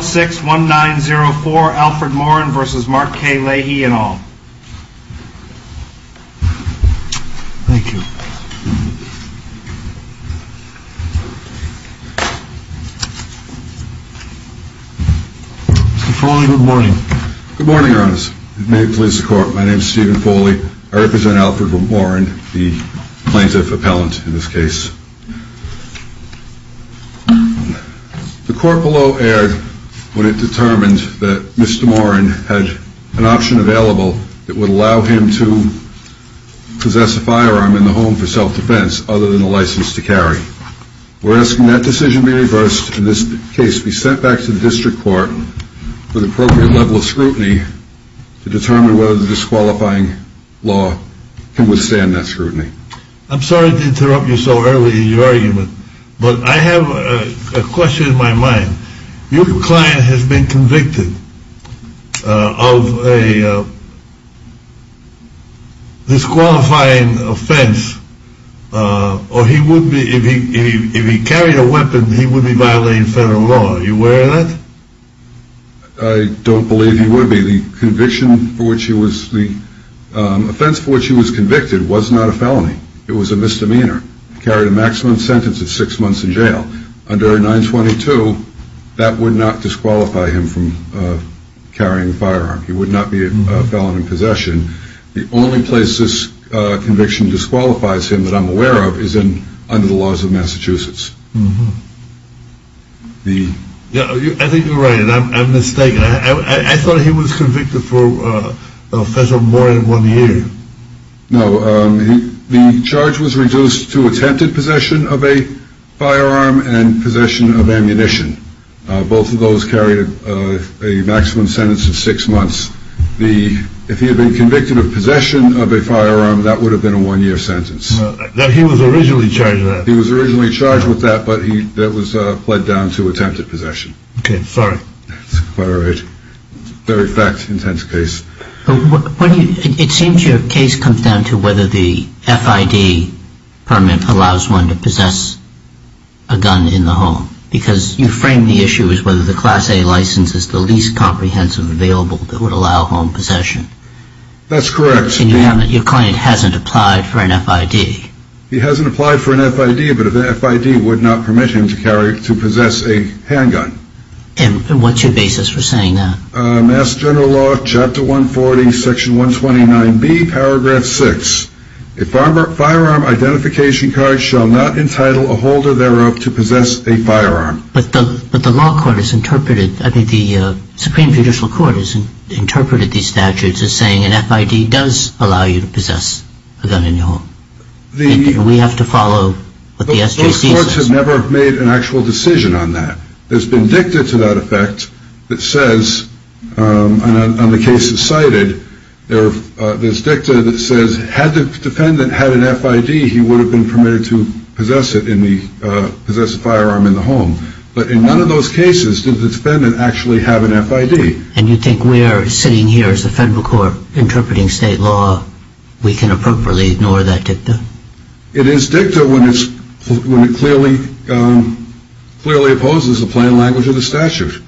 061904 Alfred Morin v. Mark K. Leahy, et al. Thank you. Mr. Foley, good morning. Good morning, Your Honor. May it please the Court. My name is Stephen Foley. I represent Alfred Morin, the plaintiff appellant in this case. The Court below erred when it determined that Mr. Morin had an option available that would allow him to possess a firearm in the home for self-defense other than a license to carry. We're asking that decision be reversed and this case be sent back to the District Court with appropriate level of scrutiny to determine whether the disqualifying law can withstand that scrutiny. I'm sorry to interrupt you so early in your argument, but I have a question in my mind. Your client has been convicted of a disqualifying offense, or he would be, if he carried a weapon, he would be violating federal law. Are you aware of that? I don't believe he would be. The offense for which he was convicted was not a felony. It was a misdemeanor. He carried a maximum sentence of six months in jail. Under 922, that would not disqualify him from carrying a firearm. He would not be a felon in possession. The only place this conviction disqualifies him that I'm aware of is under the laws of Massachusetts. I think you're right. I'm mistaken. I thought he was convicted for a federal moratorium of one year. No, the charge was reduced to attempted possession of a firearm and possession of ammunition. Both of those carried a maximum sentence of six months. If he had been convicted of possession of a firearm, that would have been a one-year sentence. He was originally charged with that, but that was played down to attempted possession. Okay, sorry. All right. Very fact-intense case. It seems your case comes down to whether the FID permit allows one to possess a gun in the home, because you frame the issue as whether the Class A license is the least comprehensive available that would allow home possession. That's correct. Your client hasn't applied for an FID. He hasn't applied for an FID, but the FID would not permit him to possess a handgun. And what's your basis for saying that? Mass General Law, Chapter 140, Section 129B, Paragraph 6. A firearm identification card shall not entitle a holder thereof to possess a firearm. But the Supreme Judicial Court has interpreted these statutes as saying an FID does allow you to possess a gun in your home. We have to follow what the SJC says. Those courts have never made an actual decision on that. There's been dicta to that effect that says, and the case is cited, there's dicta that says had the defendant had an FID, he would have been permitted to possess a firearm in the home. But in none of those cases did the defendant actually have an FID. And you think we're sitting here as the federal court interpreting state law, we can appropriately ignore that dicta? It is dicta when it clearly opposes the plain language of the statute.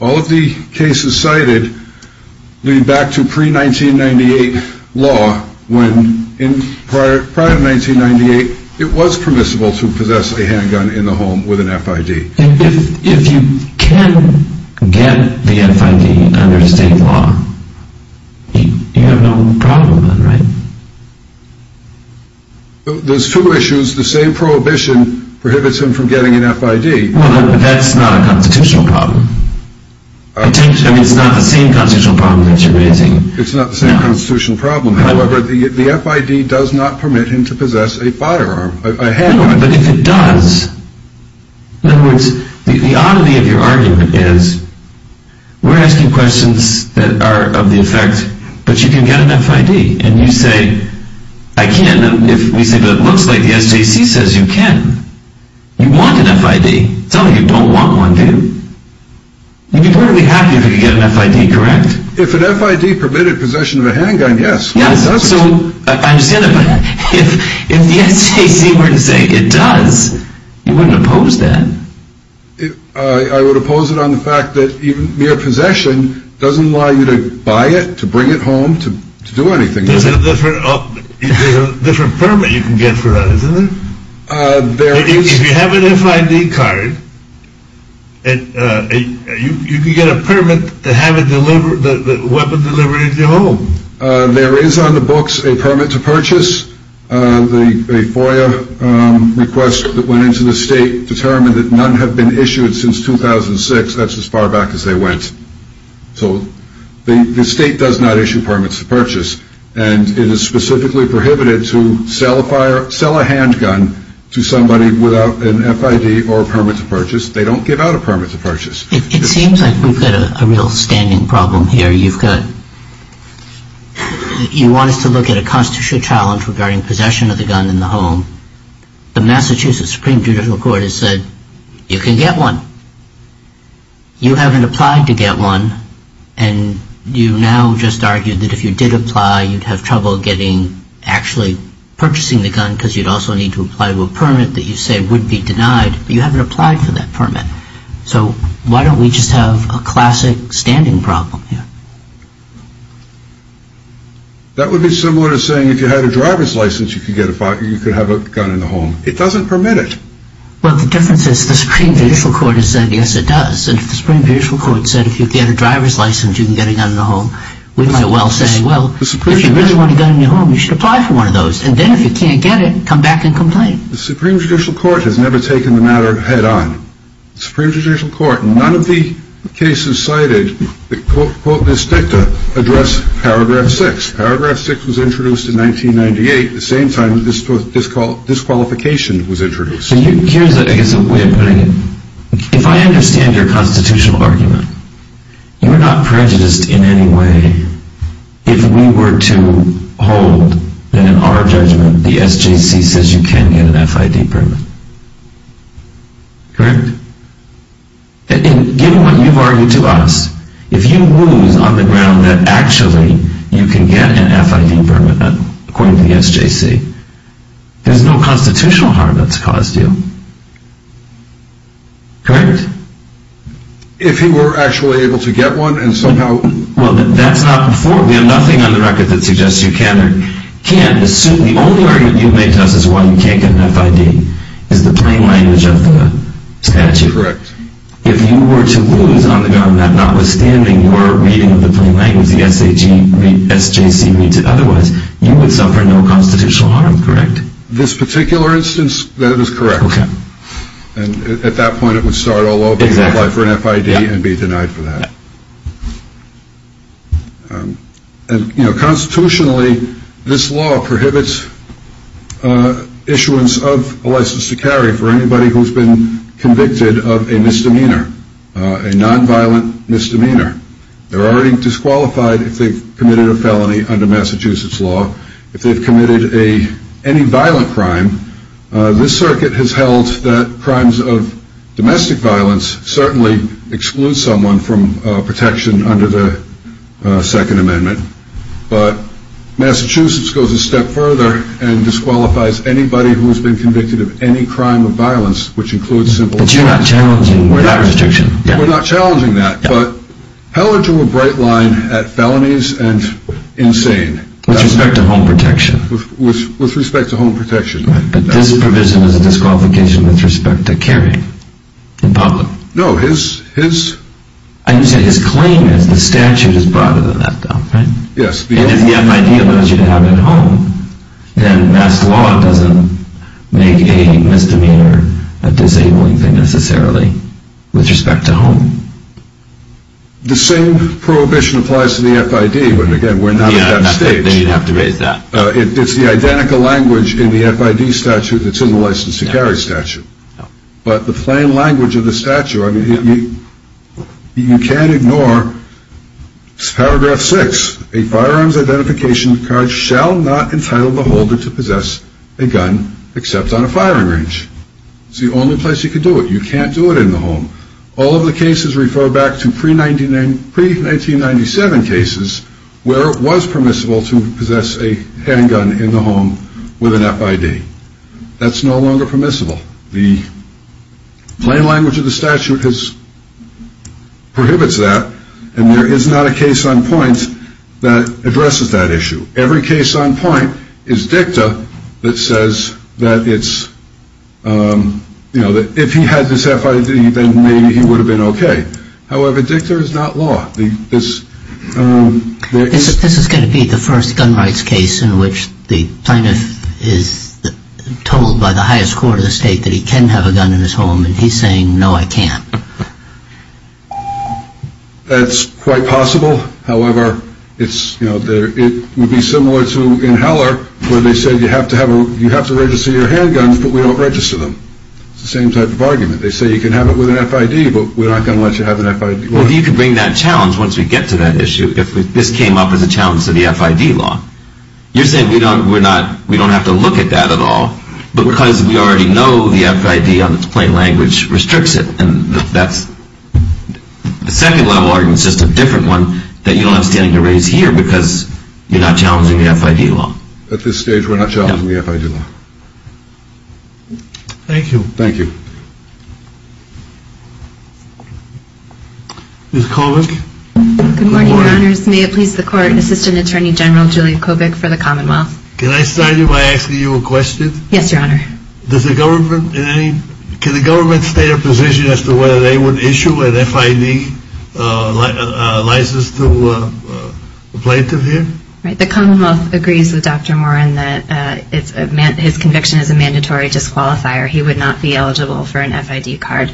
All of the cases cited lead back to pre-1998 law when prior to 1998 it was permissible to possess a handgun in the home with an FID. If you can get the FID under state law, you have no problem then, right? There's two issues. The same prohibition prohibits him from getting an FID. Well, that's not a constitutional problem. I mean, it's not the same constitutional problem that you're raising. It's not the same constitutional problem. However, the FID does not permit him to possess a firearm, a handgun. No, but if it does, in other words, the oddity of your argument is we're asking questions that are of the effect, but you can get an FID. And you say, I can if we say, but it looks like the SJC says you can. You want an FID. It's not like you don't want one, do you? You'd be perfectly happy if you could get an FID, correct? If an FID permitted possession of a handgun, yes. Yes, so I understand that, but if the SJC were to say it does, you wouldn't oppose that? I would oppose it on the fact that mere possession doesn't allow you to buy it, to bring it home, to do anything with it. There's a different permit you can get for that, isn't there? If you have an FID card, you can get a permit to have the weapon delivered into your home. There is on the books a permit to purchase. The FOIA request that went into the state determined that none have been issued since 2006. That's as far back as they went. So the state does not issue permits to purchase, and it is specifically prohibited to sell a handgun to somebody without an FID or a permit to purchase. They don't give out a permit to purchase. It seems like we've got a real standing problem here. You've got – you want us to look at a constitutional challenge regarding possession of the gun in the home. The Massachusetts Supreme Judicial Court has said you can get one. You haven't applied to get one, and you now just argue that if you did apply, you'd have trouble getting – actually purchasing the gun because you'd also need to apply to a permit that you say would be denied. But you haven't applied for that permit. So why don't we just have a classic standing problem here? That would be similar to saying if you had a driver's license, you could get a – you could have a gun in the home. It doesn't permit it. Well, the difference is the Supreme Judicial Court has said yes, it does. And if the Supreme Judicial Court said if you get a driver's license, you can get a gun in the home, we might as well say, well, if you really want a gun in your home, you should apply for one of those. And then if you can't get it, come back and complain. The Supreme Judicial Court has never taken the matter head on. The Supreme Judicial Court, none of the cases cited that quote this dicta address Paragraph 6. Paragraph 6 was introduced in 1998, the same time disqualification was introduced. Here's, I guess, a way of putting it. If I understand your constitutional argument, you're not prejudiced in any way. If we were to hold that in our judgment, the SJC says you can get an FID permit, correct? And given what you've argued to us, if you lose on the ground that actually you can get an FID permit, according to the SJC, there's no constitutional harm that's caused you, correct? If he were actually able to get one and somehow – Well, that's not – we have nothing on the record that suggests you can or can't. Assume the only argument you've made to us is why you can't get an FID is the plain language of the statute. Correct. If you were to lose on the ground that notwithstanding your reading of the plain language, the SJC reads it otherwise, you would suffer no constitutional harm, correct? This particular instance, that is correct. Okay. And at that point, it would start all over again, apply for an FID and be denied for that. And, you know, constitutionally, this law prohibits issuance of a license to carry for anybody who's been convicted of a misdemeanor, a nonviolent misdemeanor. They're already disqualified if they've committed a felony under Massachusetts law. If they've committed any violent crime, this circuit has held that crimes of domestic violence certainly exclude someone from protection under the Second Amendment. But Massachusetts goes a step further and disqualifies anybody who's been convicted of any crime of violence, which includes simple – But you're not challenging that restriction. We're not challenging that. But Heller drew a bright line at felonies and insane. With respect to home protection. With respect to home protection. But this provision is a disqualification with respect to carrying in public. No, his – And you say his claim is the statute is broader than that though, right? Yes. And if the FID allows you to have it at home, then Mass. law doesn't make a misdemeanor a disabling thing necessarily with respect to home. The same prohibition applies to the FID, but again, we're not at that stage. Then you'd have to raise that. It's the identical language in the FID statute that's in the license to carry statute. But the plain language of the statute, I mean, you can't ignore paragraph six. A firearms identification card shall not entitle the holder to possess a gun except on a firing range. It's the only place you can do it. You can't do it in the home. All of the cases refer back to pre-1997 cases where it was permissible to possess a handgun in the home with an FID. That's no longer permissible. The plain language of the statute prohibits that, and there is not a case on point that addresses that issue. Every case on point is DICTA that says that if he had this FID, then maybe he would have been okay. However, DICTA is not law. This is going to be the first gun rights case in which the plaintiff is told by the highest court of the state that he can have a gun in his home, and he's saying, no, I can't. That's quite possible. However, it would be similar to in Heller where they said you have to register your handguns, but we don't register them. It's the same type of argument. They say you can have it with an FID, but we're not going to let you have an FID. Well, you could bring that challenge once we get to that issue if this came up as a challenge to the FID law. You're saying we don't have to look at that at all because we already know the FID on its plain language restricts it, and the second level argument is just a different one that you don't have standing to raise here because you're not challenging the FID law. At this stage, we're not challenging the FID law. Thank you. Thank you. Ms. Kovach? Good morning, Your Honors. May it please the Court, Assistant Attorney General Julia Kovach for the Commonwealth. Can I start you by asking you a question? Yes, Your Honor. Can the government state a position as to whether they would issue an FID license to a plaintiff here? The Commonwealth agrees with Dr. Moran that his conviction is a mandatory disqualifier. He would not be eligible for an FID card,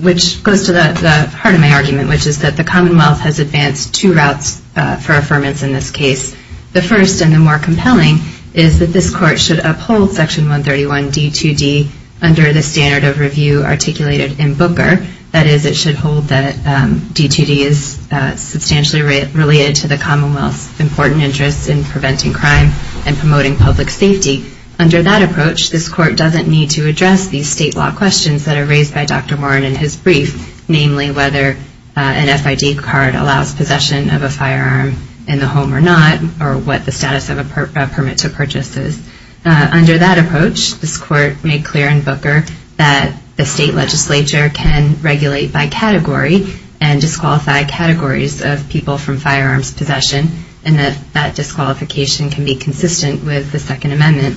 which goes to the heart of my argument, which is that the Commonwealth has advanced two routes for affirmance in this case. The first and the more compelling is that this Court should uphold Section 131 D2D under the standard of review articulated in Booker. That is, it should hold that D2D is substantially related to the Commonwealth's important interests in preventing crime and promoting public safety. Under that approach, this Court doesn't need to address these state law questions that are raised by Dr. Moran in his brief, namely whether an FID card allows possession of a firearm in the home or not or what the status of a permit to purchase is. Under that approach, this Court made clear in Booker that the state legislature can regulate by category and disqualify categories of people from firearms possession and that that disqualification can be consistent with the Second Amendment.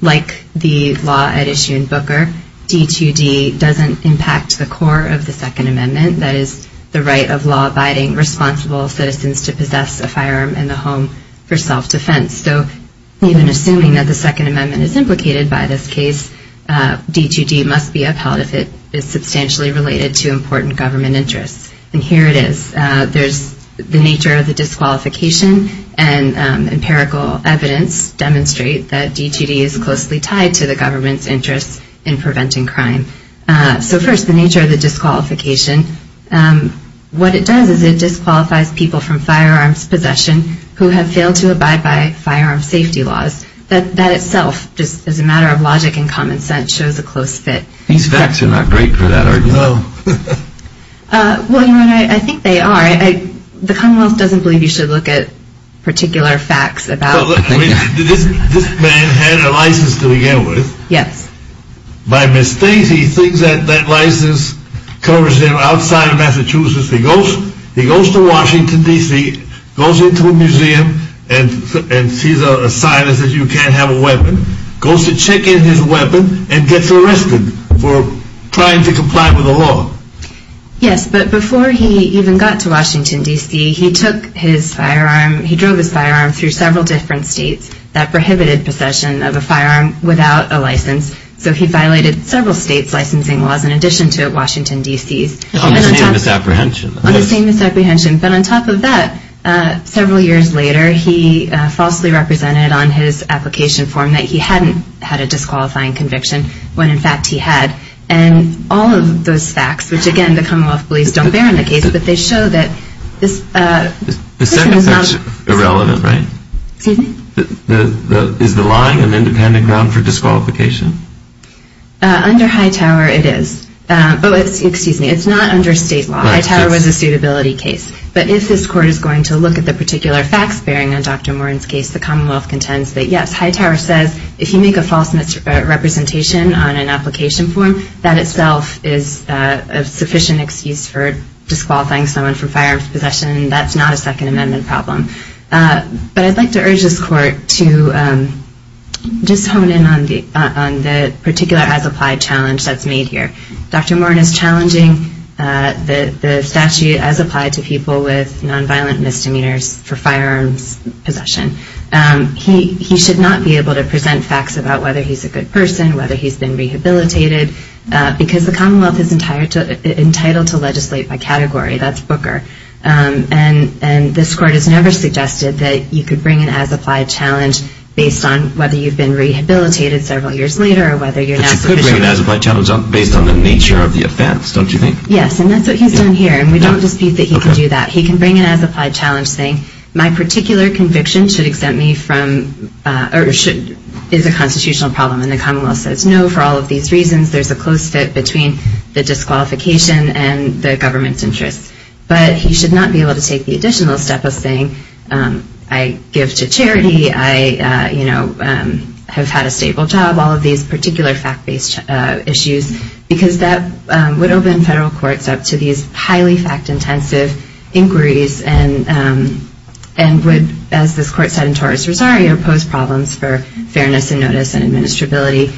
Like the law at issue in Booker, D2D doesn't impact the core of the Second Amendment, that is, the right of law-abiding, responsible citizens to possess a firearm in the home for self-defense. So even assuming that the Second Amendment is implicated by this case, D2D must be upheld if it is substantially related to important government interests. And here it is. The nature of the disqualification and empirical evidence demonstrate that D2D is closely tied to the government's interests in preventing crime. So first, the nature of the disqualification. What it does is it disqualifies people from firearms possession who have failed to abide by firearms safety laws. That itself, just as a matter of logic and common sense, shows a close fit. These facts are not great for that argument. Well, you know what, I think they are. The Commonwealth doesn't believe you should look at particular facts about... This man had a license to begin with. Yes. By mistake, he thinks that that license covers him outside Massachusetts. He goes to Washington, D.C., goes into a museum and sees a sign that says you can't have a weapon, goes to check in his weapon, and gets arrested for trying to comply with the law. Yes, but before he even got to Washington, D.C., he took his firearm, he drove his firearm through several different states that prohibited possession of a firearm without a license. So he violated several states' licensing laws in addition to Washington, D.C.'s. On the same misapprehension. On the same misapprehension. But on top of that, several years later, he falsely represented on his application form that he hadn't had a disqualifying conviction when, in fact, he had. And all of those facts, which, again, the Commonwealth police don't bear in the case, but they show that this... The second section is irrelevant, right? Excuse me? Is the lying an independent ground for disqualification? Under Hightower, it is. Oh, excuse me, it's not under state law. Hightower was a suitability case. But if this court is going to look at the particular facts bearing on Dr. Morin's case, the Commonwealth contends that, yes, Hightower says if you make a false representation on an application form, that itself is a sufficient excuse for disqualifying someone from firearms possession. That's not a Second Amendment problem. But I'd like to urge this court to just hone in on the particular as-applied challenge that's made here. Dr. Morin is challenging the statute as applied to people with nonviolent misdemeanors for firearms possession. He should not be able to present facts about whether he's a good person, whether he's been rehabilitated, because the Commonwealth is entitled to legislate by category. That's Booker. And this court has never suggested that you could bring an as-applied challenge based on whether you've been rehabilitated several years later or whether you're not sufficient. But you could bring an as-applied challenge based on the nature of the offense, don't you think? Yes, and that's what he's done here. And we don't dispute that he can do that. He can bring an as-applied challenge saying my particular conviction should exempt me from or is a constitutional problem. And the Commonwealth says, no, for all of these reasons, there's a close fit between the disqualification and the government's interests. But he should not be able to take the additional step of saying I give to charity, I have had a stable job, all of these particular fact-based issues, because that would open federal courts up to these highly fact-intensive inquiries and would, as this court said in Torres-Rosario, pose problems for fairness and notice and administrability.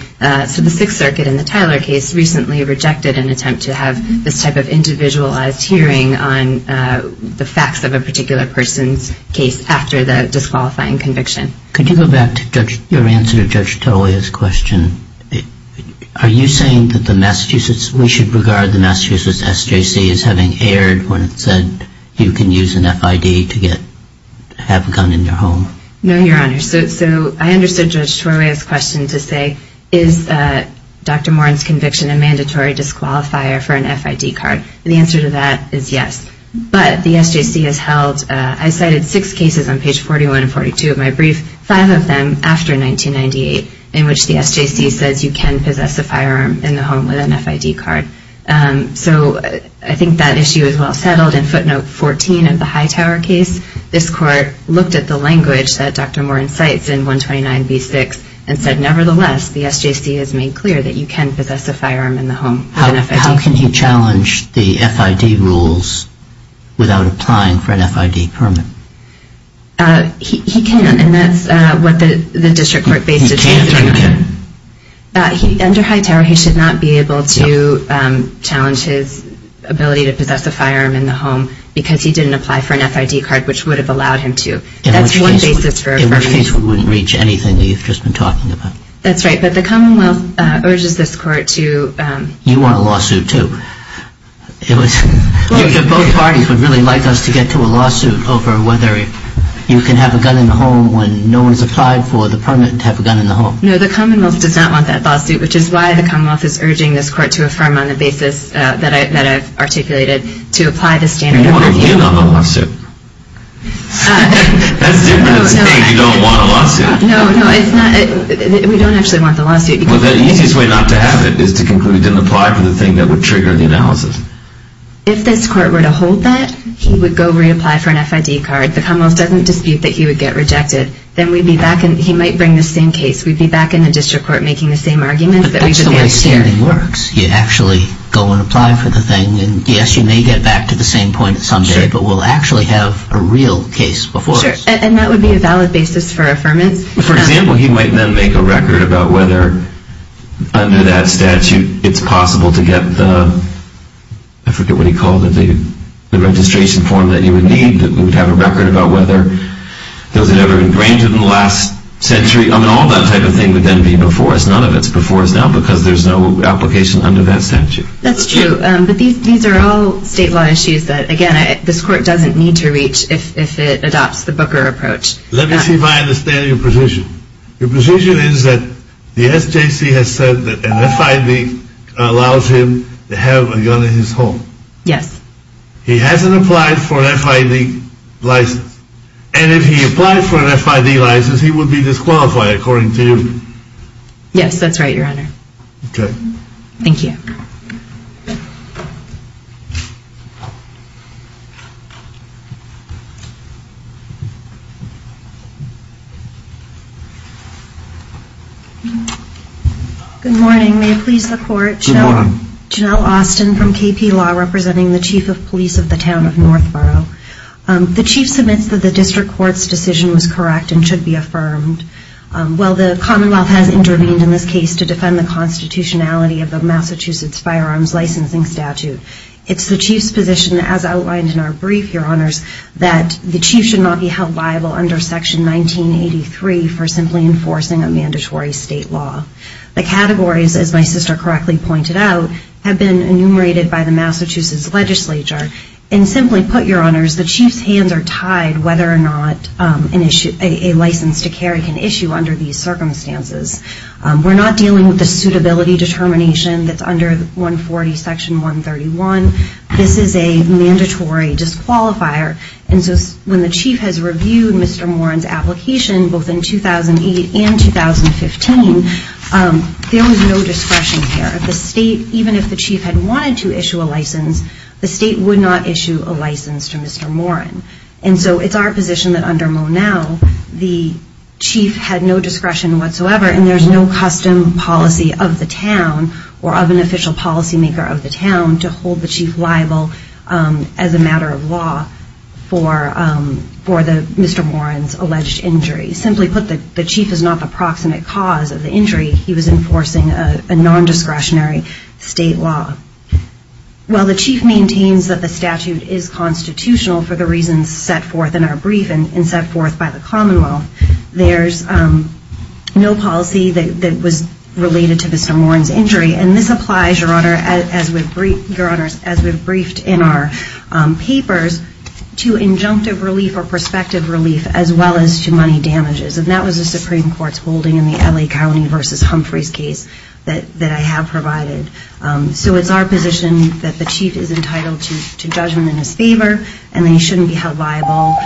So the Sixth Circuit in the Tyler case recently rejected an attempt to have this type of individualized hearing on the facts of a particular person's case after the disqualifying conviction. Could you go back to your answer to Judge Torroya's question? Are you saying that we should regard the Massachusetts SJC as having erred when it said you can use an FID to have a gun in your home? No, Your Honor. So I understood Judge Torroya's question to say is Dr. Moran's conviction a mandatory disqualifier for an FID card? The answer to that is yes. But the SJC has held, I cited six cases on page 41 and 42 of my brief, five of them after 1998, in which the SJC says you can possess a firearm in the home with an FID card. So I think that issue is well settled. In footnote 14 of the Hightower case, this court looked at the language that Dr. Moran cites in 129b6 and said nevertheless the SJC has made clear that you can possess a firearm in the home with an FID card. How can he challenge the FID rules without applying for an FID permit? He can't. And that's what the district court based its case on. Under Hightower, he should not be able to challenge his ability to possess a firearm in the home because he didn't apply for an FID card, which would have allowed him to. That's one basis for affirmation. In which case we wouldn't reach anything that you've just been talking about. That's right, but the Commonwealth urges this court to You want a lawsuit too. Both parties would really like us to get to a lawsuit over whether you can have a gun in the home when no one's applied for the permit to have a gun in the home. No, the Commonwealth does not want that lawsuit, which is why the Commonwealth is urging this court to affirm on the basis that I've articulated to apply the standard of review. Well, what are you on the lawsuit? That's different. It's me. You don't want a lawsuit. No, no, it's not. We don't actually want the lawsuit. Well, the easiest way not to have it is to conclude he didn't apply for the thing that would trigger the analysis. If this court were to hold that, he would go reapply for an FID card. The Commonwealth doesn't dispute that he would get rejected. Then we'd be back, and he might bring the same case. We'd be back in the district court making the same arguments that we did last year. But that's the way standing works. You actually go and apply for the thing, and yes, you may get back to the same point someday, but we'll actually have a real case before us. Sure, and that would be a valid basis for affirmance. For example, he might then make a record about whether under that statute it's possible to get the, I forget what he called it, the registration form that you would need, that we would have a record about whether those had ever been granted in the last century. I mean, all that type of thing would then be before us. None of it's before us now because there's no application under that statute. That's true. But these are all state law issues that, again, this court doesn't need to reach if it adopts the Booker approach. Let me see if I understand your position. Your position is that the SJC has said that an FID allows him to have a gun in his home. Yes. He hasn't applied for an FID license, and if he applied for an FID license, he would be disqualified, according to you. Yes, that's right, Your Honor. Okay. Thank you. Good morning. May it please the Court. Good morning. Janelle Austin from KP Law, representing the Chief of Police of the Town of Northborough. The Chief submits that the District Court's decision was correct and should be affirmed. While the Commonwealth has intervened in this case to defend the constitutionality of the Massachusetts Firearms Licensing Statute, it's the Chief's position, as outlined in our brief, Your Honors, that the Chief should not be held liable under Section 1983 for simply enforcing a mandatory state law. The categories, as my sister correctly pointed out, have been enumerated by the Massachusetts legislature. And simply put, Your Honors, the Chief's hands are tied whether or not a license to carry can issue under these circumstances. We're not dealing with the suitability determination that's under 140, Section 131. This is a mandatory disqualifier. And so when the Chief has reviewed Mr. Moran's application, both in 2008 and 2015, there was no discretion there. The state, even if the Chief had wanted to issue a license, the state would not issue a license to Mr. Moran. And so it's our position that under Monal, the Chief had no discretion whatsoever, and there's no custom policy of the town or of an official policymaker of the town to hold the Chief liable as a matter of law for Mr. Moran's alleged injury. Simply put, the Chief is not the proximate cause of the injury. He was enforcing a nondiscretionary state law. While the Chief maintains that the statute is constitutional for the reasons set forth in our brief and set forth by the Commonwealth, there's no policy that was related to Mr. Moran's injury. And this applies, Your Honor, as we've briefed in our papers, to injunctive relief or prospective relief as well as to money damages. And that was the Supreme Court's holding in the L.A. County v. Humphreys case that I have provided. So it's our position that the Chief is entitled to judgment in his favor and that he shouldn't be held liable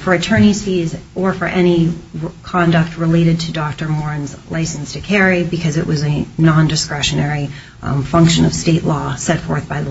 for attorney's fees or for any conduct related to Dr. Moran's license to carry because it was a nondiscretionary function of state law set forth by the legislature.